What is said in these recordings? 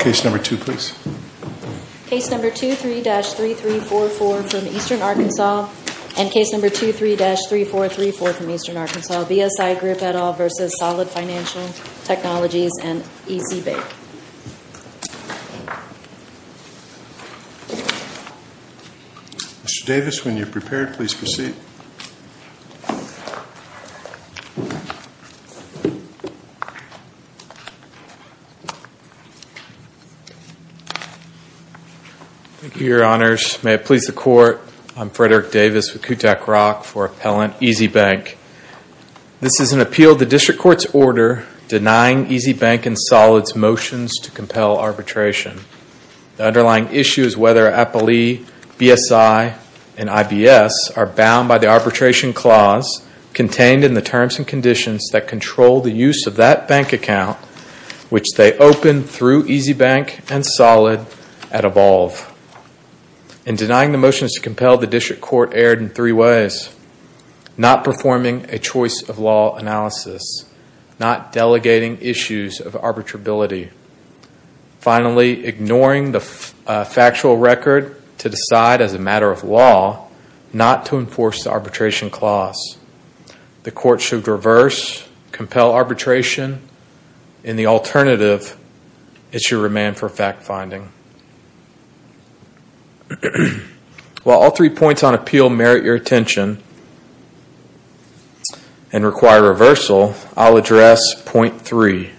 Mr. Davis, when you are prepared, please proceed. Thank you, Your Honors. May it please the Court, I'm Frederick Davis with Kutak ROK for Appellant EasyBank. This is an appeal to the District Court's order denying EasyBank and Solid's motions to compel arbitration. The underlying issue is whether APALE, BSI, and IBS are bound by the arbitration clause contained in the terms and conditions that control the use of that bank account, which they open through EasyBank and Solid at Evolve. In denying the motions to compel, the District Court erred in three ways. Not performing a choice of law analysis. Not delegating issues of arbitrability. Finally, ignoring the factual record to decide as a matter of law not to enforce the arbitration clause. The Court should reverse, compel arbitration, and the alternative, it should remain for fact-finding. While all three points on appeal merit your attention and require reversal, I'll address point three.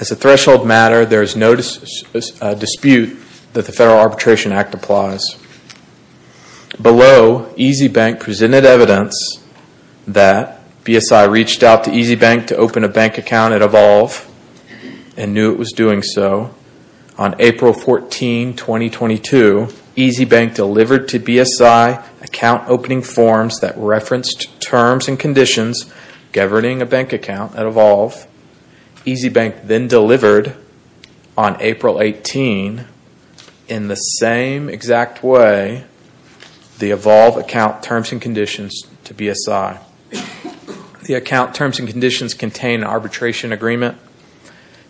As a threshold matter, there is no dispute that the Federal Arbitration Act applies. Below, EasyBank presented evidence that BSI reached out to EasyBank to open a bank account at Evolve and knew it was doing so. On April 14, 2022, EasyBank delivered to BSI account opening forms that referenced terms and conditions governing a bank account at Evolve. EasyBank then delivered, on April 18, in the same exact way, the Evolve account terms and conditions to BSI. The account terms and conditions contain arbitration agreement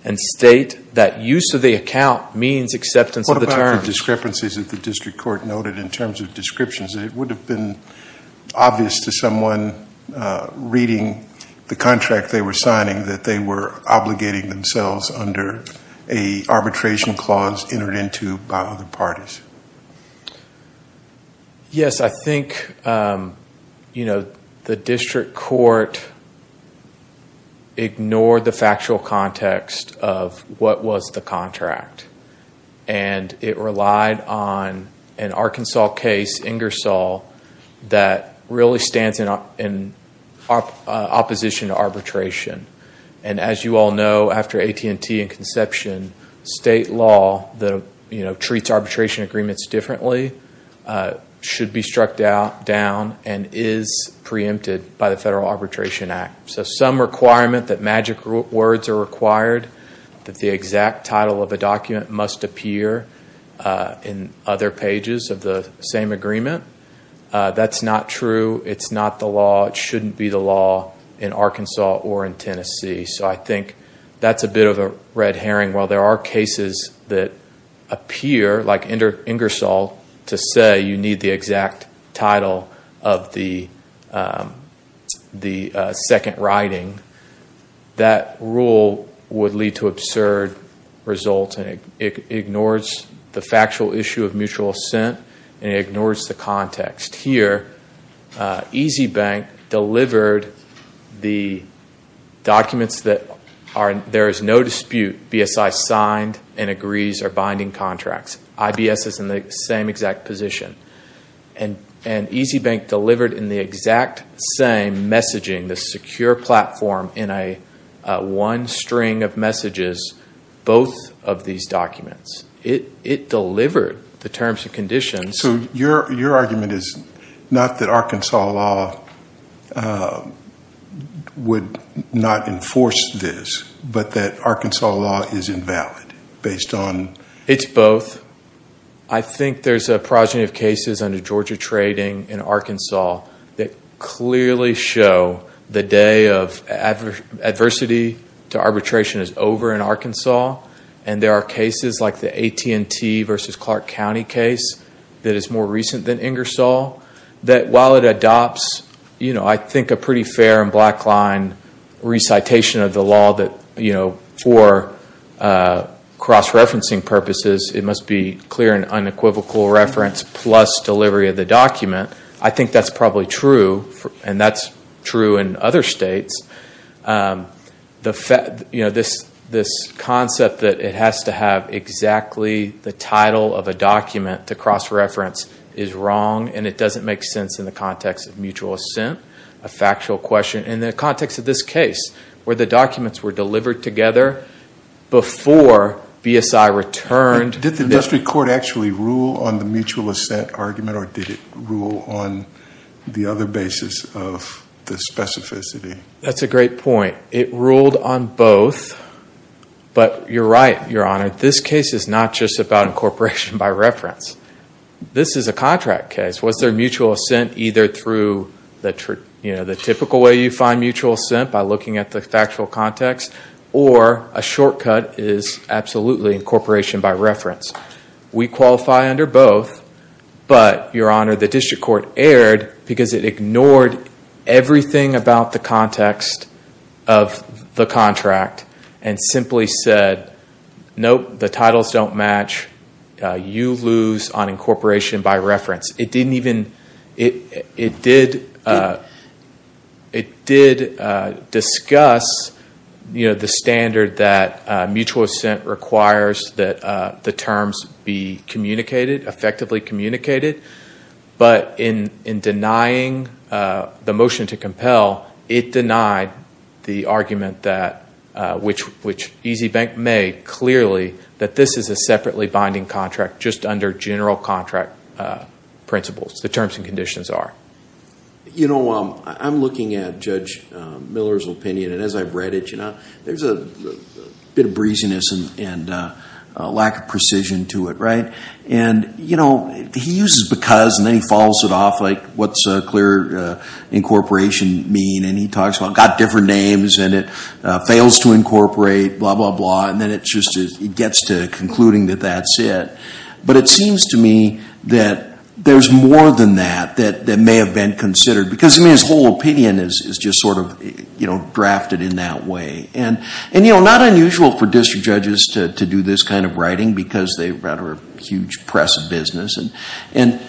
and state that use of the account means acceptance of the terms. What about the discrepancies that the District Court noted in terms of descriptions? It would have been obvious to someone reading the contract they were signing that they were obligating themselves under an arbitration clause entered into by other parties. Yes, I think the District Court ignored the factual context of what was the contract. It relied on an Arkansas case, Ingersoll, that really stands in opposition to arbitration. As you all know, after AT&T and Conception, state law that treats arbitration agreements differently should be struck down and is preempted by the Federal Arbitration Act. Some requirement that magic words are required, that the exact title of a document must appear in other pages of the same agreement. That's not true. It's not the law. It shouldn't be the law in Arkansas or in Tennessee. I think that's a bit of a red herring. While there are cases that appear, like Ingersoll, to say you need the exact title of the second writing, that rule would lead to absurd results. It ignores the factual issue of mutual assent and it ignores the context. EasyBank delivered the documents that there is no dispute BSI signed and agrees are binding contracts. IBS is in the same exact position. EasyBank delivered in the exact same messaging, the secure platform in one string of messages, both of these documents. It delivered the terms and conditions. So your argument is not that Arkansas law would not enforce this, but that Arkansas law is invalid based on... It's both. I think there's a progeny of cases under Georgia trading in Arkansas that clearly show the day of adversity to arbitration is over in Arkansas. There are cases like the AT&T versus Clark County case that is more recent than Ingersoll. While it adopts, I think, a pretty fair and black line recitation of the law that for cross-referencing purposes, it must be clear and unequivocal reference plus delivery of the document. I think that's probably true. And that's true in other states. This concept that it has to have exactly the title of a document to cross-reference is wrong and it doesn't make sense in the context of mutual assent, a factual question. In the context of this case, where the documents were delivered together before BSI returned... Did the industry court actually rule on the mutual assent argument or did it rule on the other basis of the specificity? That's a great point. It ruled on both, but you're right, Your Honor. This case is not just about incorporation by reference. This is a contract case. Was there mutual assent either through the typical way you find mutual assent by looking at the factual context or a shortcut is absolutely incorporation by reference? We qualify under both, but Your Honor, the district court erred because it ignored everything about the context of the contract and simply said, nope, the titles don't match. You lose on incorporation by reference. It did discuss the standard that mutual assent requires that the terms be communicated, effectively communicated, but in denying the motion to compel, it denied the argument which EasyBank made clearly that this is a separately binding contract just under general contract principles, the terms and conditions are. I'm looking at Judge Miller's opinion, and as I've read it, there's a bit of breeziness and lack of precision to it. He uses because and then he follows it off like what's a clear incorporation mean, and he talks about got different names and it fails to incorporate, blah, blah, blah, and then it gets to concluding that that's it. But it seems to me that there's more than that that may have been considered because his whole opinion is just sort of drafted in that way. And not unusual for district judges to do this kind of writing because they run a huge press of business. And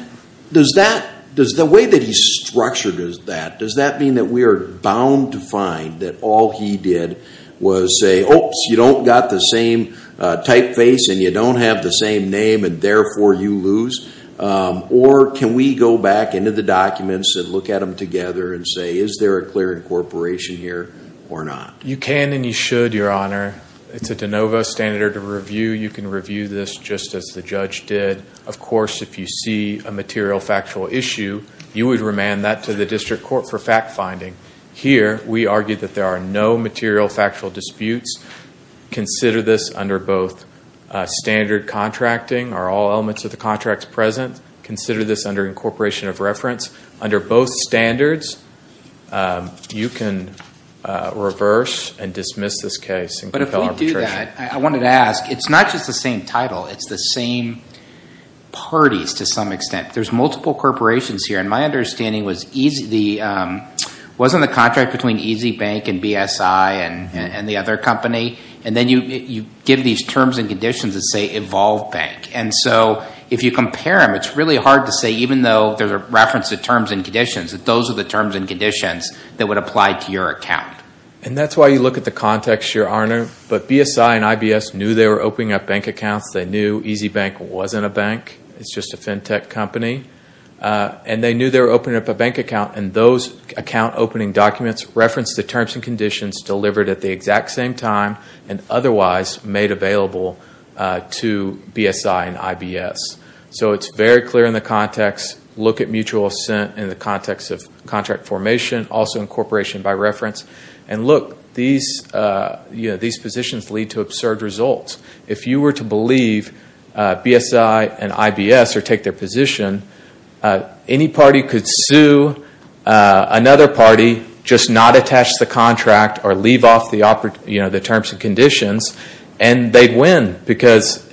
does the way that he's structured that, does that mean that we are bound to find that all he did was say, oops, you don't got the same typeface and you don't have the same name and therefore you lose? Or can we go back into the documents and look at them together and say, is there a clear incorporation here or not? You can and you should, Your Honor. It's a de novo standard of review. You can review this just as the judge did. Of course, if you see a material factual issue, you would remand that to the district court for fact-finding. Here, we argue that there are no material factual disputes. Consider this under both standard contracting. Are all elements of the contracts present? Consider this under incorporation of reference. Under both standards, you can reverse and dismiss this case and compel arbitration. I wanted to ask, it's not just the same title. It's the same parties to some extent. There's multiple corporations here. And my understanding was wasn't the contract between Easy Bank and BSI and the other company? And then you give these terms and conditions that say Evolve Bank. And so if you compare them, it's really hard to say, even though there's a reference to terms and conditions, that those are the terms and conditions that would apply to your account. And that's why you look at the context, Your Honor. But BSI and IBS knew they were opening up bank accounts. They knew Easy Bank wasn't a bank. It's just a fintech company. And they knew they were opening up a bank account. And those account opening documents reference the terms and conditions delivered at the exact same time and otherwise made available to BSI and IBS. So it's very clear in the context. Look at mutual assent in the context of contract formation, also incorporation by reference. And look, these positions lead to absurd results. If you were to believe BSI and IBS or take their position, any party could sue another party, just not attach the contract or leave off the terms and conditions, and they'd win because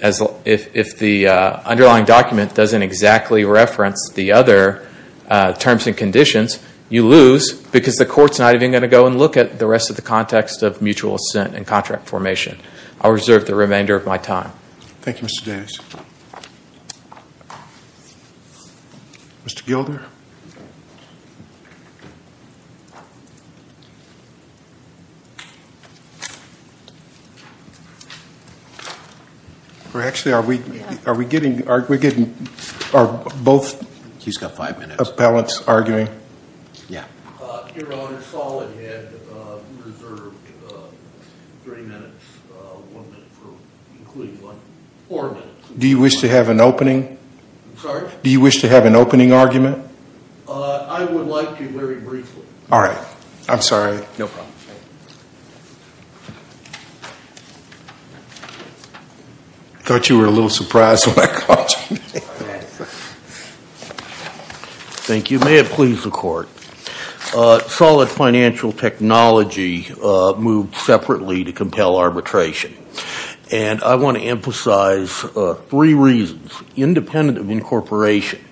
if the underlying document doesn't exactly reference the other terms and conditions, you lose because the court's not even going to go and look at the rest of the context of mutual assent and contract formation. I'll reserve the remainder of my time. Thank you, Mr. Davis. Mr. Gilder? Actually, are we getting both appellants arguing? Your Honor, Soled had reserved three minutes, one minute for including what? Four minutes. Do you wish to have an opening? I'm sorry? Do you wish to have an opening argument? I would like to very briefly. All right. I'm sorry. No problem. I thought you were a little surprised when I called you. Thank you. It may have pleased the court. Solid financial technology moved separately to compel arbitration. And I want to emphasize three reasons. Independent of incorporation,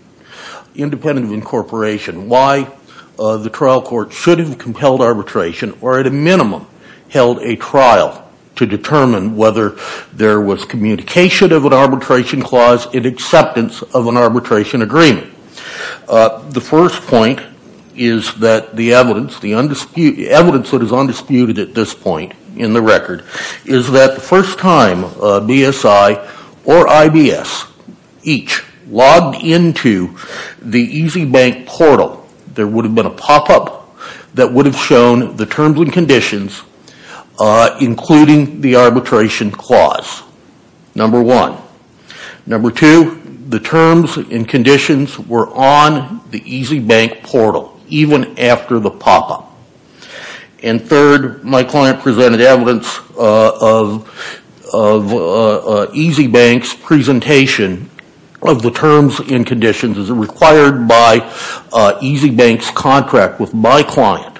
independent of incorporation, why the trial court should have compelled arbitration or at a minimum held a trial to determine whether there was communication of an arbitration clause and acceptance of an arbitration agreement. The first point is that the evidence, the evidence that is undisputed at this point in the record is that the first time BSI or IBS each logged into the EasyBank portal, there would have been a pop-up that would have shown the terms and conditions including the arbitration clause, number one. Number two, the terms and conditions were on the EasyBank portal even after the pop-up. And third, my client presented evidence of EasyBank's presentation of the terms and conditions as required by EasyBank's contract with my client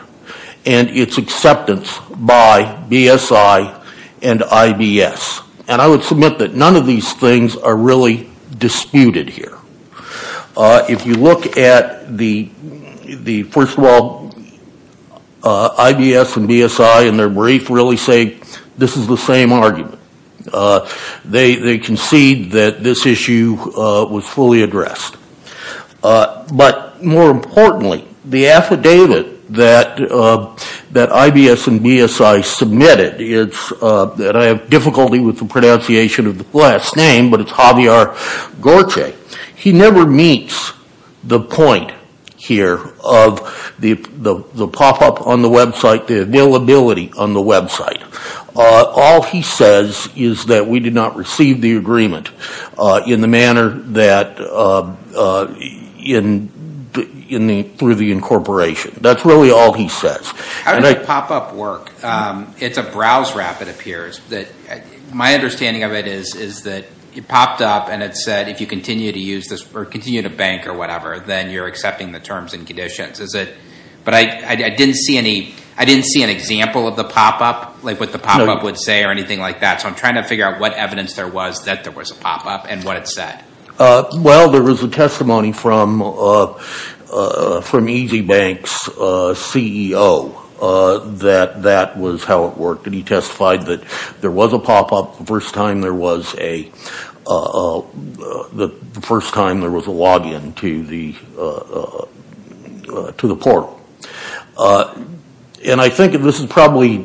and its acceptance by BSI and IBS. And I would submit that none of these things are really disputed here. If you look at the, first of all, IBS and BSI in their brief really say this is the same argument. They concede that this issue was fully addressed. But more importantly, the affidavit that IBS and BSI submitted, and I have difficulty with the pronunciation of the last name, but it's Javier Gorce. He never meets the point here of the pop-up on the website, the availability on the website. All he says is that we did not receive the agreement in the manner that, through the incorporation. That's really all he says. How does the pop-up work? It's a browse wrap, it appears. My understanding of it is that it popped up and it said if you continue to use this, or continue to bank or whatever, then you're accepting the terms and conditions. But I didn't see an example of the pop-up, like what the pop-up would say or anything like that. So I'm trying to figure out what evidence there was that there was a pop-up and what it said. Well, there was a testimony from EasyBank's CEO that that was how it worked. And he testified that there was a pop-up the first time there was a login to the portal. And I think this is probably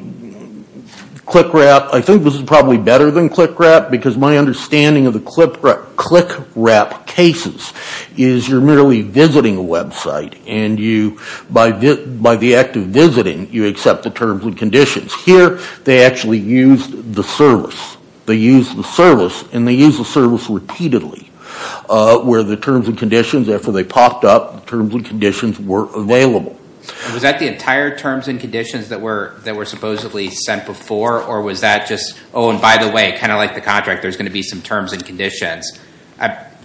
better than click wrap, because my understanding of the click wrap cases is you're merely visiting a website. And by the act of visiting, you accept the terms and conditions. Here, they actually used the service. They used the service, and they used the service repeatedly. Where the terms and conditions, after they popped up, the terms and conditions were available. Was that the entire terms and conditions that were supposedly sent before? Or was that just, oh, and by the way, kind of like the contract, there's going to be some terms and conditions.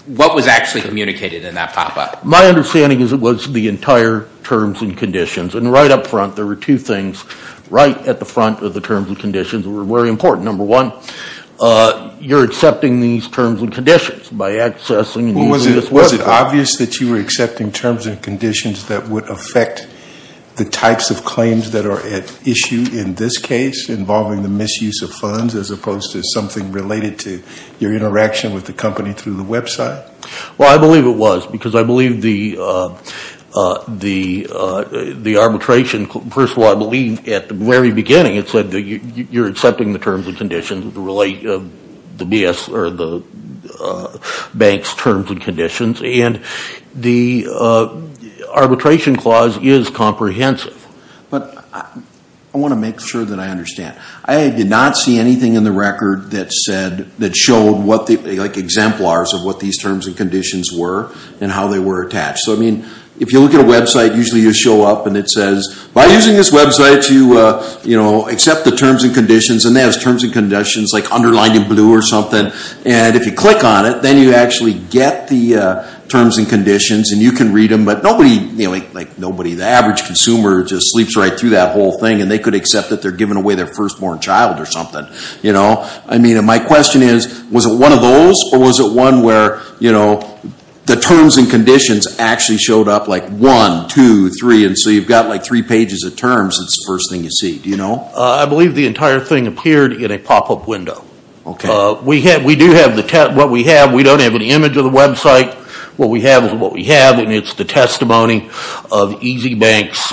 What was actually communicated in that pop-up? My understanding is it was the entire terms and conditions. And right up front, there were two things right at the front of the terms and conditions that were very important. Number one, you're accepting these terms and conditions by accessing and using this website. Was it obvious that you were accepting terms and conditions that would affect the types of claims that are at issue in this case, involving the misuse of funds, as opposed to something related to your interaction with the company through the website? Well, I believe it was, because I believe the arbitration, first of all, I believe at the very beginning, it said that you're accepting the terms and conditions, the bank's terms and conditions. And the arbitration clause is comprehensive. But I want to make sure that I understand. I did not see anything in the record that showed exemplars of what these terms and conditions were and how they were attached. So, I mean, if you look at a website, usually you show up and it says, by using this website, you accept the terms and conditions. And it has terms and conditions like underlined in blue or something. And if you click on it, then you actually get the terms and conditions. And you can read them. But nobody, like nobody, the average consumer just sleeps right through that whole thing. And they could accept that they're giving away their firstborn child or something. I mean, my question is, was it one of those? Or was it one where the terms and conditions actually showed up like one, two, three, and so you've got like three pages of terms. It's the first thing you see. Do you know? I believe the entire thing appeared in a pop-up window. Okay. We do have what we have. We don't have an image of the website. What we have is what we have, and it's the testimony of EasyBank's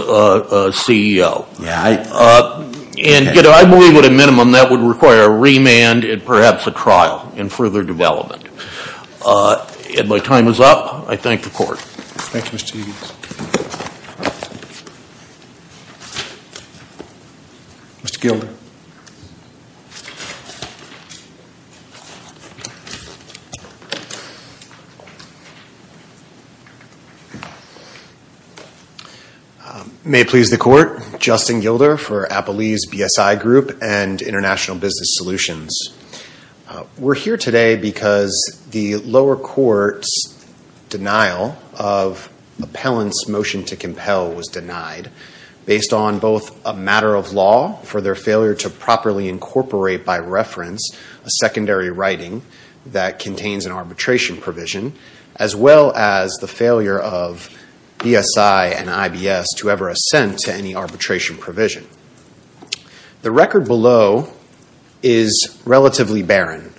CEO. Yeah. And, you know, I believe at a minimum that would require a remand and perhaps a trial in further development. And my time is up. I thank the court. Thank you, Mr. Egan. Mr. Gilder. May it please the court. Justin Gilder for Applebee's BSI Group and International Business Solutions. We're here today because the lower court's denial of appellant's motion to compel was denied based on both a matter of law for their failure to properly incorporate by reference a secondary writing that contains an arbitration provision as well as the failure of BSI and IBS to ever assent to any arbitration provision. The record below is relatively barren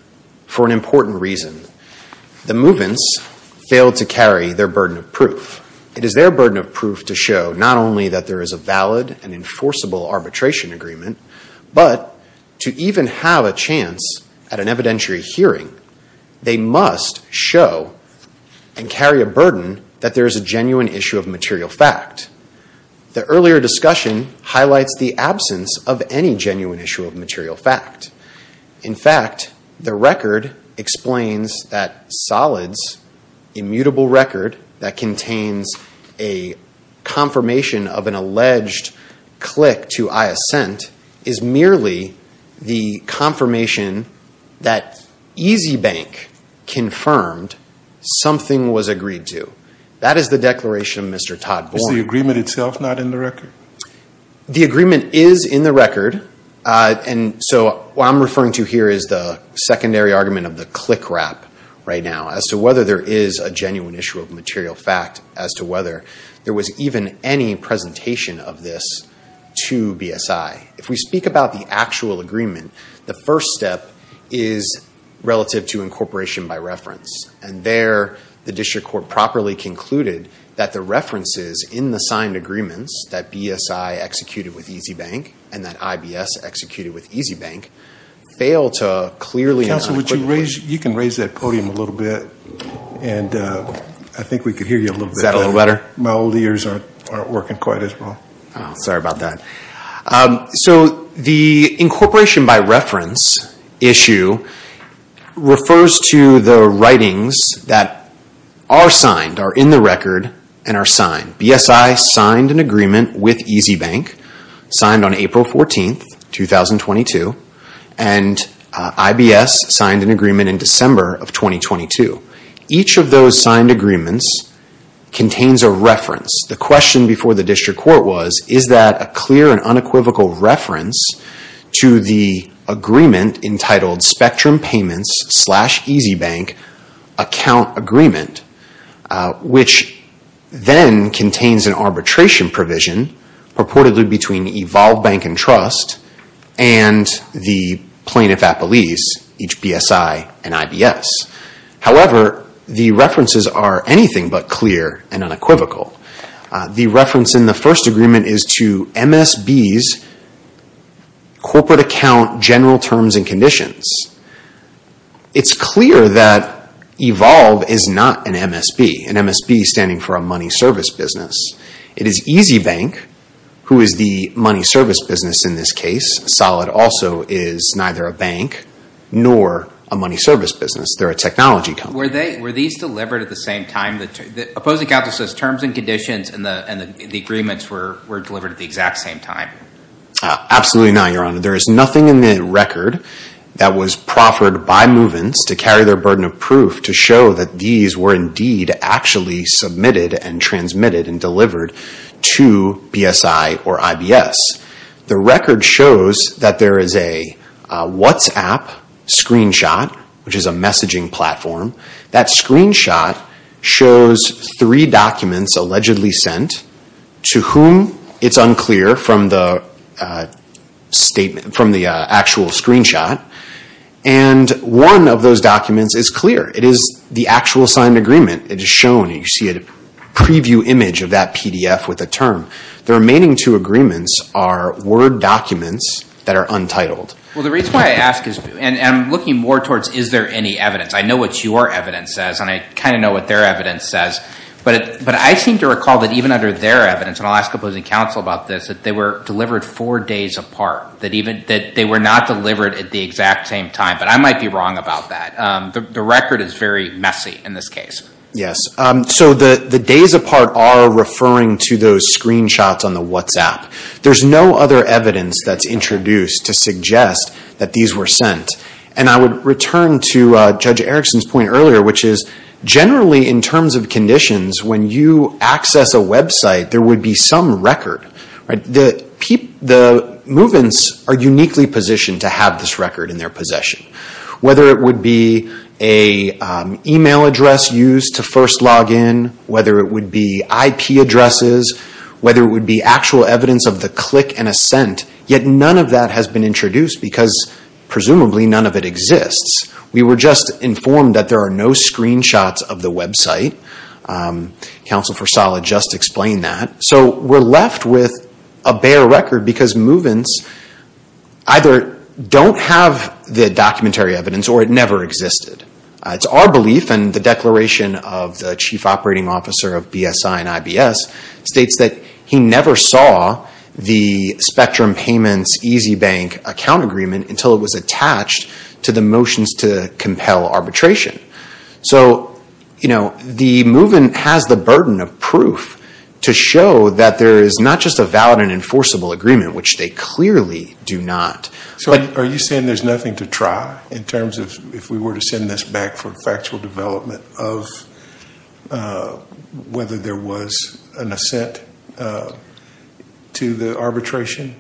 for an important reason. The movements failed to carry their burden of proof. It is their burden of proof to show not only that there is a valid and enforceable arbitration agreement, but to even have a chance at an evidentiary hearing, they must show and carry a burden that there is a genuine issue of material fact. The earlier discussion highlights the absence of any genuine issue of material fact. In fact, the record explains that Solid's immutable record that contains a confirmation of an alleged click to I assent is merely the confirmation that EasyBank confirmed something was agreed to. That is the declaration of Mr. Todd Bourne. Is the agreement itself not in the record? The agreement is in the record. What I'm referring to here is the secondary argument of the click rap right now as to whether there is a genuine issue of material fact, as to whether there was even any presentation of this to BSI. If we speak about the actual agreement, the first step is relative to incorporation by reference, and there the district court properly concluded that the references in the signed agreements that BSI executed with EasyBank and that IBS executed with EasyBank fail to clearly. Counsel, you can raise that podium a little bit, and I think we can hear you a little bit better. Is that a little better? My old ears aren't working quite as well. Sorry about that. So the incorporation by reference issue refers to the writings that are signed, are in the record, and are signed. BSI signed an agreement with EasyBank, signed on April 14, 2022, and IBS signed an agreement in December of 2022. Each of those signed agreements contains a reference. The question before the district court was, is that a clear and unequivocal reference to the agreement entitled Spectrum Payments slash EasyBank Account Agreement, which then contains an arbitration provision purportedly between Evolve Bank and Trust and the plaintiff at police, each BSI and IBS. However, the references are anything but clear and unequivocal. The reference in the first agreement is to MSB's corporate account general terms and conditions. It's clear that Evolve is not an MSB, an MSB standing for a money service business. It is EasyBank, who is the money service business in this case. Solid also is neither a bank nor a money service business. They're a technology company. Were these delivered at the same time? The opposing counsel says terms and conditions and the agreements were delivered at the exact same time. Absolutely not, Your Honor. There is nothing in the record that was proffered by Movens to carry their burden of proof to show that these were indeed actually submitted and transmitted and delivered to BSI or IBS. The record shows that there is a WhatsApp screenshot, which is a messaging platform. That screenshot shows three documents allegedly sent to whom it's unclear from the actual screenshot. And one of those documents is clear. It is the actual signed agreement. It is shown. You see a preview image of that PDF with the term. The remaining two agreements are Word documents that are untitled. Well, the reason why I ask is, and I'm looking more towards is there any evidence. I know what your evidence says, and I kind of know what their evidence says. But I seem to recall that even under their evidence, and I'll ask opposing counsel about this, that they were delivered four days apart, that they were not delivered at the exact same time. But I might be wrong about that. The record is very messy in this case. Yes. So the days apart are referring to those screenshots on the WhatsApp. There's no other evidence that's introduced to suggest that these were sent. And I would return to Judge Erickson's point earlier, which is generally in terms of conditions, when you access a website, there would be some record. The movements are uniquely positioned to have this record in their possession. Whether it would be an email address used to first log in, whether it would be IP addresses, whether it would be actual evidence of the click and a scent, yet none of that has been introduced because presumably none of it exists. We were just informed that there are no screenshots of the website. Counsel for Sala just explained that. So we're left with a bare record because movements either don't have the documentary evidence or it never existed. It's our belief, and the declaration of the Chief Operating Officer of BSI and IBS states that he never saw the Spectrum Payments Easy Bank account agreement until it was attached to the motions to compel arbitration. So the movement has the burden of proof to show that there is not just a valid and enforceable agreement, which they clearly do not. So are you saying there's nothing to try in terms of, if we were to send this back for factual development, of whether there was an assent to the arbitration?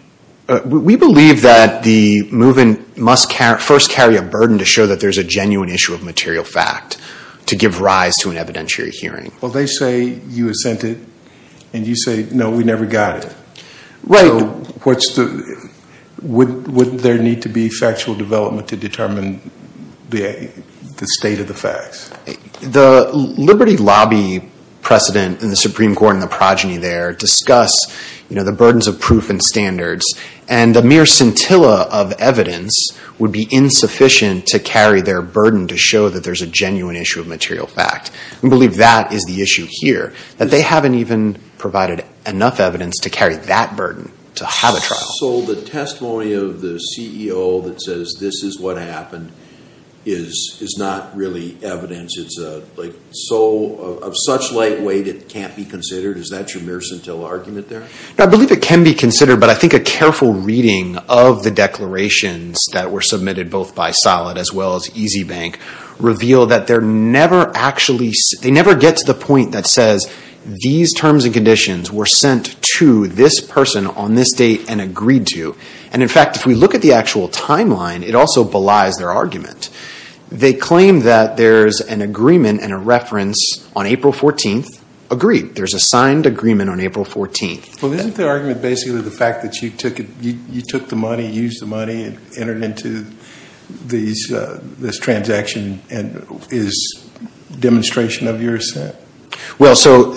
We believe that the movement must first carry a burden to show that there's a genuine issue of material fact to give rise to an evidentiary hearing. Well, they say you assented and you say, no, we never got it. Right. So would there need to be factual development to determine the state of the facts? The Liberty Lobby precedent in the Supreme Court and the progeny there discuss the burdens of proof and standards, and a mere scintilla of evidence would be insufficient to carry their burden to show that there's a genuine issue of material fact. We believe that is the issue here, that they haven't even provided enough evidence to carry that burden to have a trial. So the testimony of the CEO that says this is what happened is not really evidence? It's of such light weight it can't be considered? Is that your mere scintilla argument there? I believe it can be considered, but I think a careful reading of the declarations that were submitted, both by Solid as well as EasyBank, reveal that they never get to the point that says, these terms and conditions were sent to this person on this date and agreed to. And, in fact, if we look at the actual timeline, it also belies their argument. They claim that there's an agreement and a reference on April 14th agreed. There's a signed agreement on April 14th. Well, isn't their argument basically the fact that you took the money, used the money, and entered into this transaction as demonstration of your assent? Well, so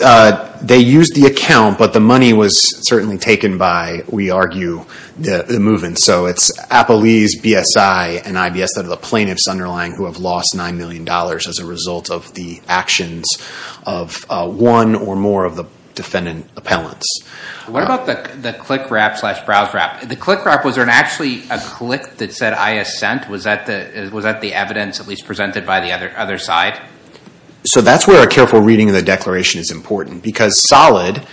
they used the account, but the money was certainly taken by, we argue, the movement. So it's Appalese, BSI, and IBS that are the plaintiffs underlying who have lost $9 million as a result of the actions of one or more of the defendant appellants. What about the click-wrap slash browse-wrap? The click-wrap, was there actually a click that said I assent? Was that the evidence at least presented by the other side? So that's where a careful reading of the declaration is important, because SOLID,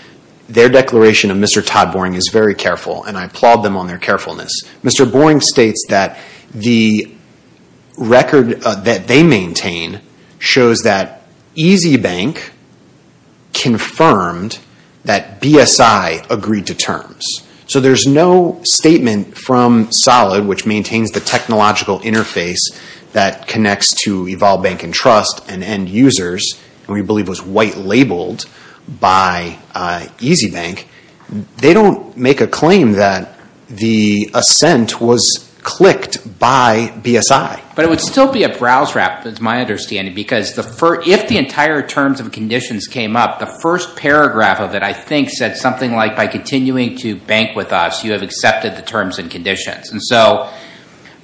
their declaration of Mr. Todd Boring is very careful, and I applaud them on their carefulness. Mr. Boring states that the record that they maintain shows that EasyBank confirmed that BSI agreed to terms. So there's no statement from SOLID which maintains the technological interface that connects to Evolve Bank and Trust and end users, and we believe was white-labeled by EasyBank. They don't make a claim that the assent was clicked by BSI. But it would still be a browse-wrap, it's my understanding, because if the entire terms and conditions came up, the first paragraph of it, I think, said something like, by continuing to bank with us, you have accepted the terms and conditions. And so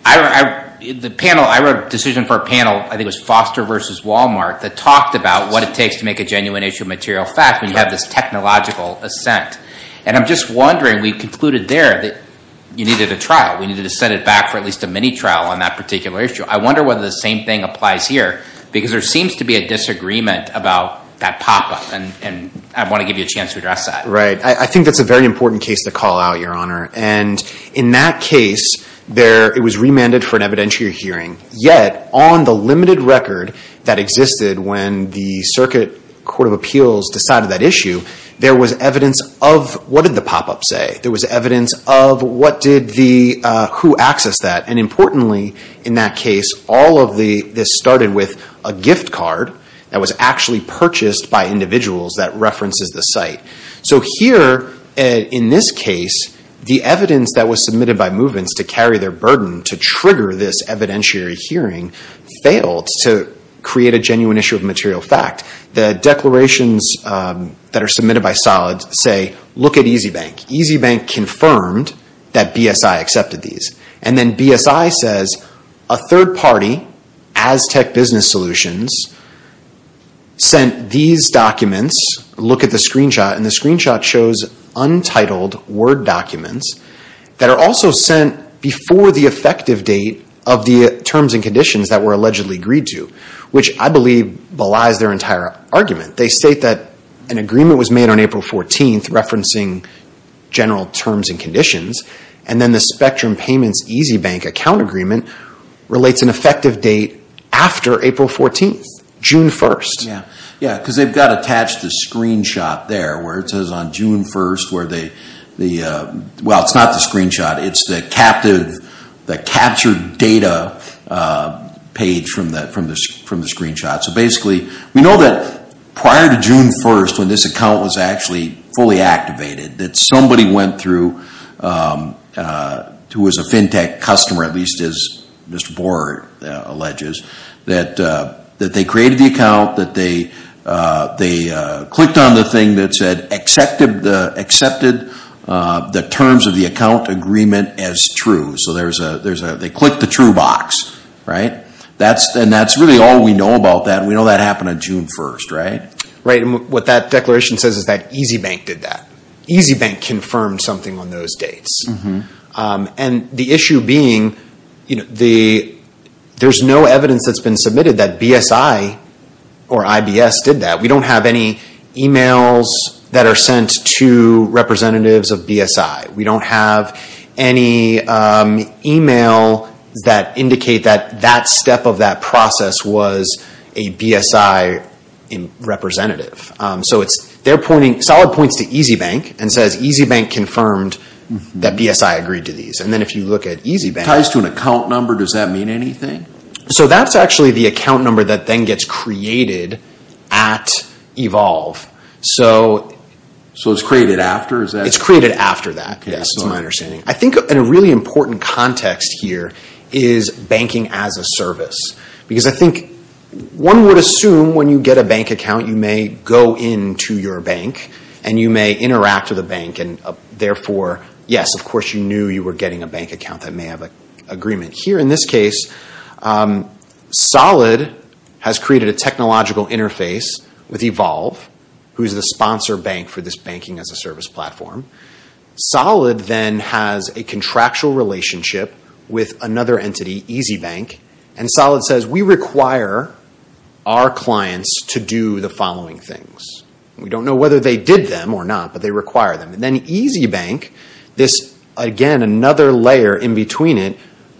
the panel, I wrote a decision for a panel, I think it was Foster versus Walmart, that talked about what it takes to make a genuine issue of material fact when you have this technological assent. And I'm just wondering, we concluded there that you needed a trial. We needed to set it back for at least a mini-trial on that particular issue. I wonder whether the same thing applies here, because there seems to be a disagreement about that pop-up, and I want to give you a chance to address that. Right. I think that's a very important case to call out, Your Honor. And in that case, it was remanded for an evidentiary hearing. Yet, on the limited record that existed when the Circuit Court of Appeals decided that issue, there was evidence of what did the pop-up say? There was evidence of who accessed that. And importantly, in that case, all of this started with a gift card that was actually purchased by individuals that references the site. So here, in this case, the evidence that was submitted by movements to carry their burden to trigger this evidentiary hearing failed to create a genuine issue of material fact. The declarations that are submitted by solids say, look at EasyBank. EasyBank confirmed that BSI accepted these. And then BSI says, a third party, Aztec Business Solutions, sent these documents. Look at the screenshot, and the screenshot shows untitled Word documents that are also sent before the effective date of the terms and conditions that were allegedly agreed to, which I believe belies their entire argument. They state that an agreement was made on April 14th referencing general terms and conditions, and then the Spectrum Payments EasyBank account agreement relates an effective date after April 14th, June 1st. Yeah, because they've got attached a screenshot there where it says on June 1st, well, it's not the screenshot, it's the captured data page from the screenshot. So basically, we know that prior to June 1st, when this account was actually fully activated, that somebody went through, who was a FinTech customer, at least as Mr. Borer alleges, that they created the account, that they clicked on the thing that said, accepted the terms of the account agreement as true. So they clicked the true box, right? And that's really all we know about that. We know that happened on June 1st, right? Right, and what that declaration says is that EasyBank did that. EasyBank confirmed something on those dates. And the issue being, there's no evidence that's been submitted that BSI or IBS did that. We don't have any emails that are sent to representatives of BSI. We don't have any email that indicate that that step of that process was a BSI representative. So Solid points to EasyBank and says, EasyBank confirmed that BSI agreed to these. And then if you look at EasyBank... Ties to an account number, does that mean anything? So that's actually the account number that then gets created at Evolve. So it's created after? It's created after that, yes, is my understanding. I think a really important context here is banking as a service. Because I think one would assume when you get a bank account, you may go into your bank and you may interact with a bank and therefore, yes, of course you knew you were getting a bank account that may have an agreement. Here in this case, Solid has created a technological interface with Evolve, who's the sponsor bank for this banking as a service platform. Solid then has a contractual relationship with another entity, EasyBank. And Solid says, we require our clients to do the following things. We don't know whether they did them or not, but they require them. And then EasyBank, this again, another layer in between it,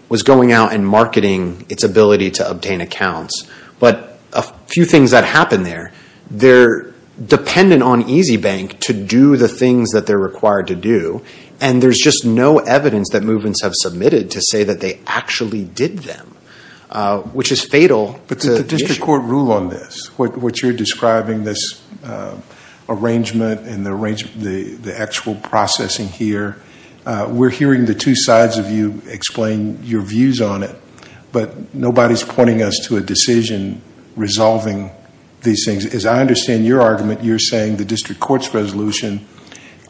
was going out and marketing its ability to obtain accounts. But a few things that happened there, they're dependent on EasyBank to do the things that they're required to do, and there's just no evidence that movements have submitted to say that they actually did them, which is fatal. But the district court ruled on this. What you're describing, this arrangement and the actual processing here, we're hearing the two sides of you explain your views on it, but nobody's pointing us to a decision resolving these things. As I understand your argument, you're saying the district court's resolution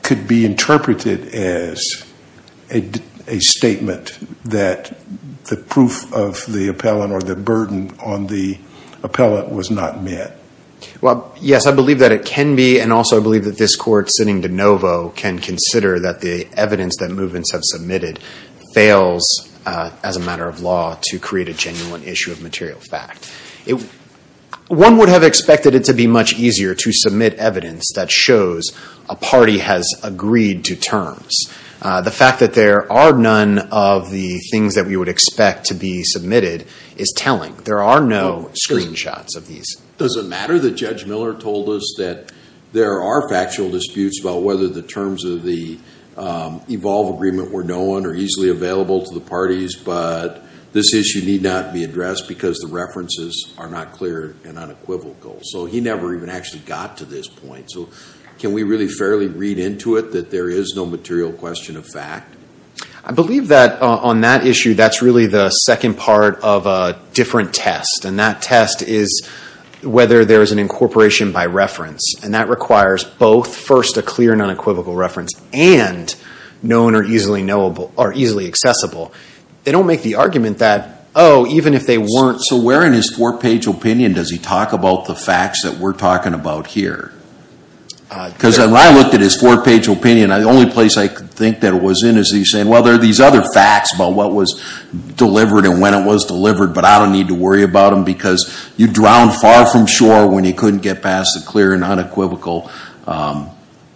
could be interpreted as a statement that the proof of the appellant or the burden on the appellant was not met. Yes, I believe that it can be, and also I believe that this court sitting de novo can consider that the evidence that movements have submitted fails as a matter of law to create a genuine issue of material fact. One would have expected it to be much easier to submit evidence that shows a party has agreed to terms. The fact that there are none of the things that we would expect to be submitted is telling. There are no screenshots of these. Does it matter that Judge Miller told us that there are factual disputes about whether the terms of the Evolve Agreement were known or easily available to the parties, but this issue need not be addressed because the references are not clear and unequivocal? He never even actually got to this point. Can we really fairly read into it that there is no material question of fact? I believe that on that issue, that's really the second part of a different test, and that test is whether there is an incorporation by reference, and that requires both first a clear and unequivocal reference and known or easily accessible. They don't make the argument that, oh, even if they weren't... So where in his four-page opinion does he talk about the facts that we're talking about here? Because when I looked at his four-page opinion, the only place I could think that it was in is he saying, well, there are these other facts about what was delivered and when it was delivered, but I don't need to worry about them because you drowned far from shore when you couldn't get past the clear and unequivocal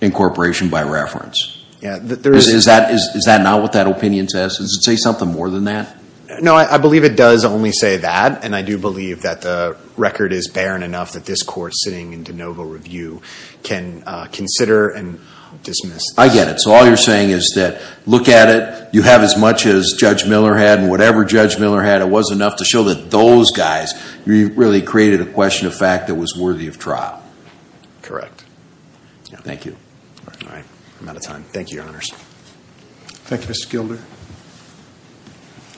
incorporation by reference. Is that not what that opinion says? Does it say something more than that? No, I believe it does only say that, and I do believe that the record is barren enough that this Court sitting in de novo review can consider and dismiss this. I get it. So all you're saying is that look at it. You have as much as Judge Miller had, and whatever Judge Miller had, it was enough to show that those guys really created a question of fact that was worthy of trial. Correct. Thank you. All right. I'm out of time. Thank you, Your Honors. Thank you, Mr. Gilder.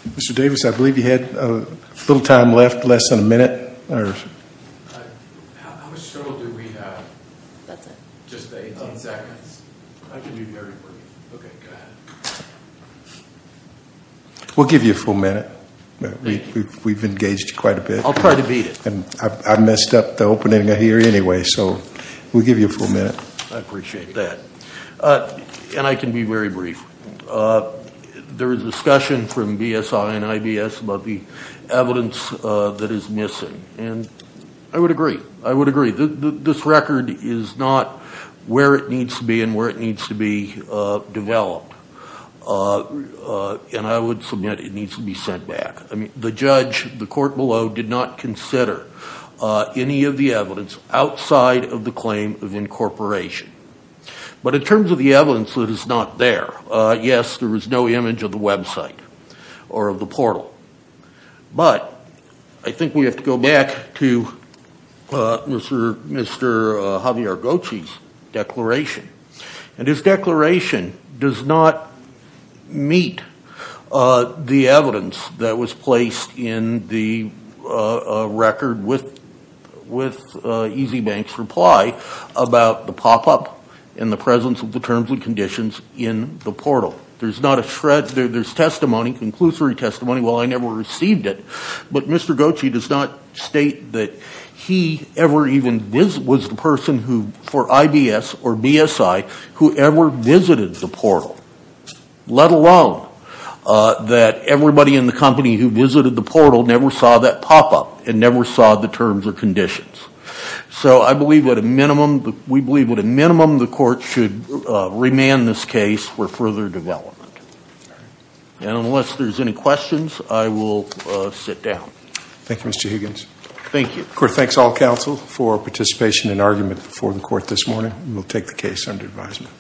Mr. Davis, I believe you had a little time left, less than a minute. How much trouble do we have? That's it. Just 18 seconds. I can be very brief. Okay, go ahead. We'll give you a full minute. Thank you. We've engaged quite a bit. I'll try to beat it. I messed up the opening here anyway, so we'll give you a full minute. I appreciate that. I can be very brief. There is discussion from BSI and IBS about the evidence that is missing. I would agree. I would agree. This record is not where it needs to be and where it needs to be developed. I would submit it needs to be sent back. The judge, the court below, did not consider any of the evidence outside of the claim of incorporation. But in terms of the evidence that is not there, yes, there is no image of the website or of the portal. But I think we have to go back to Mr. Javier Gochi's declaration. And his declaration does not meet the evidence that was placed in the record with EasyBank's reply about the pop-up and the presence of the terms and conditions in the portal. There's testimony, conclusory testimony, while I never received it, but Mr. Gochi does not state that he ever even was the person for IBS or BSI who ever visited the portal, let alone that everybody in the company who visited the portal never saw that pop-up and never saw the terms or conditions. So I believe at a minimum, we believe at a minimum the court should remand this case for further development. And unless there's any questions, I will sit down. Thank you, Mr. Higgins. Thank you. The court thanks all counsel for participation in argument before the court this morning. We'll take the case under advisement.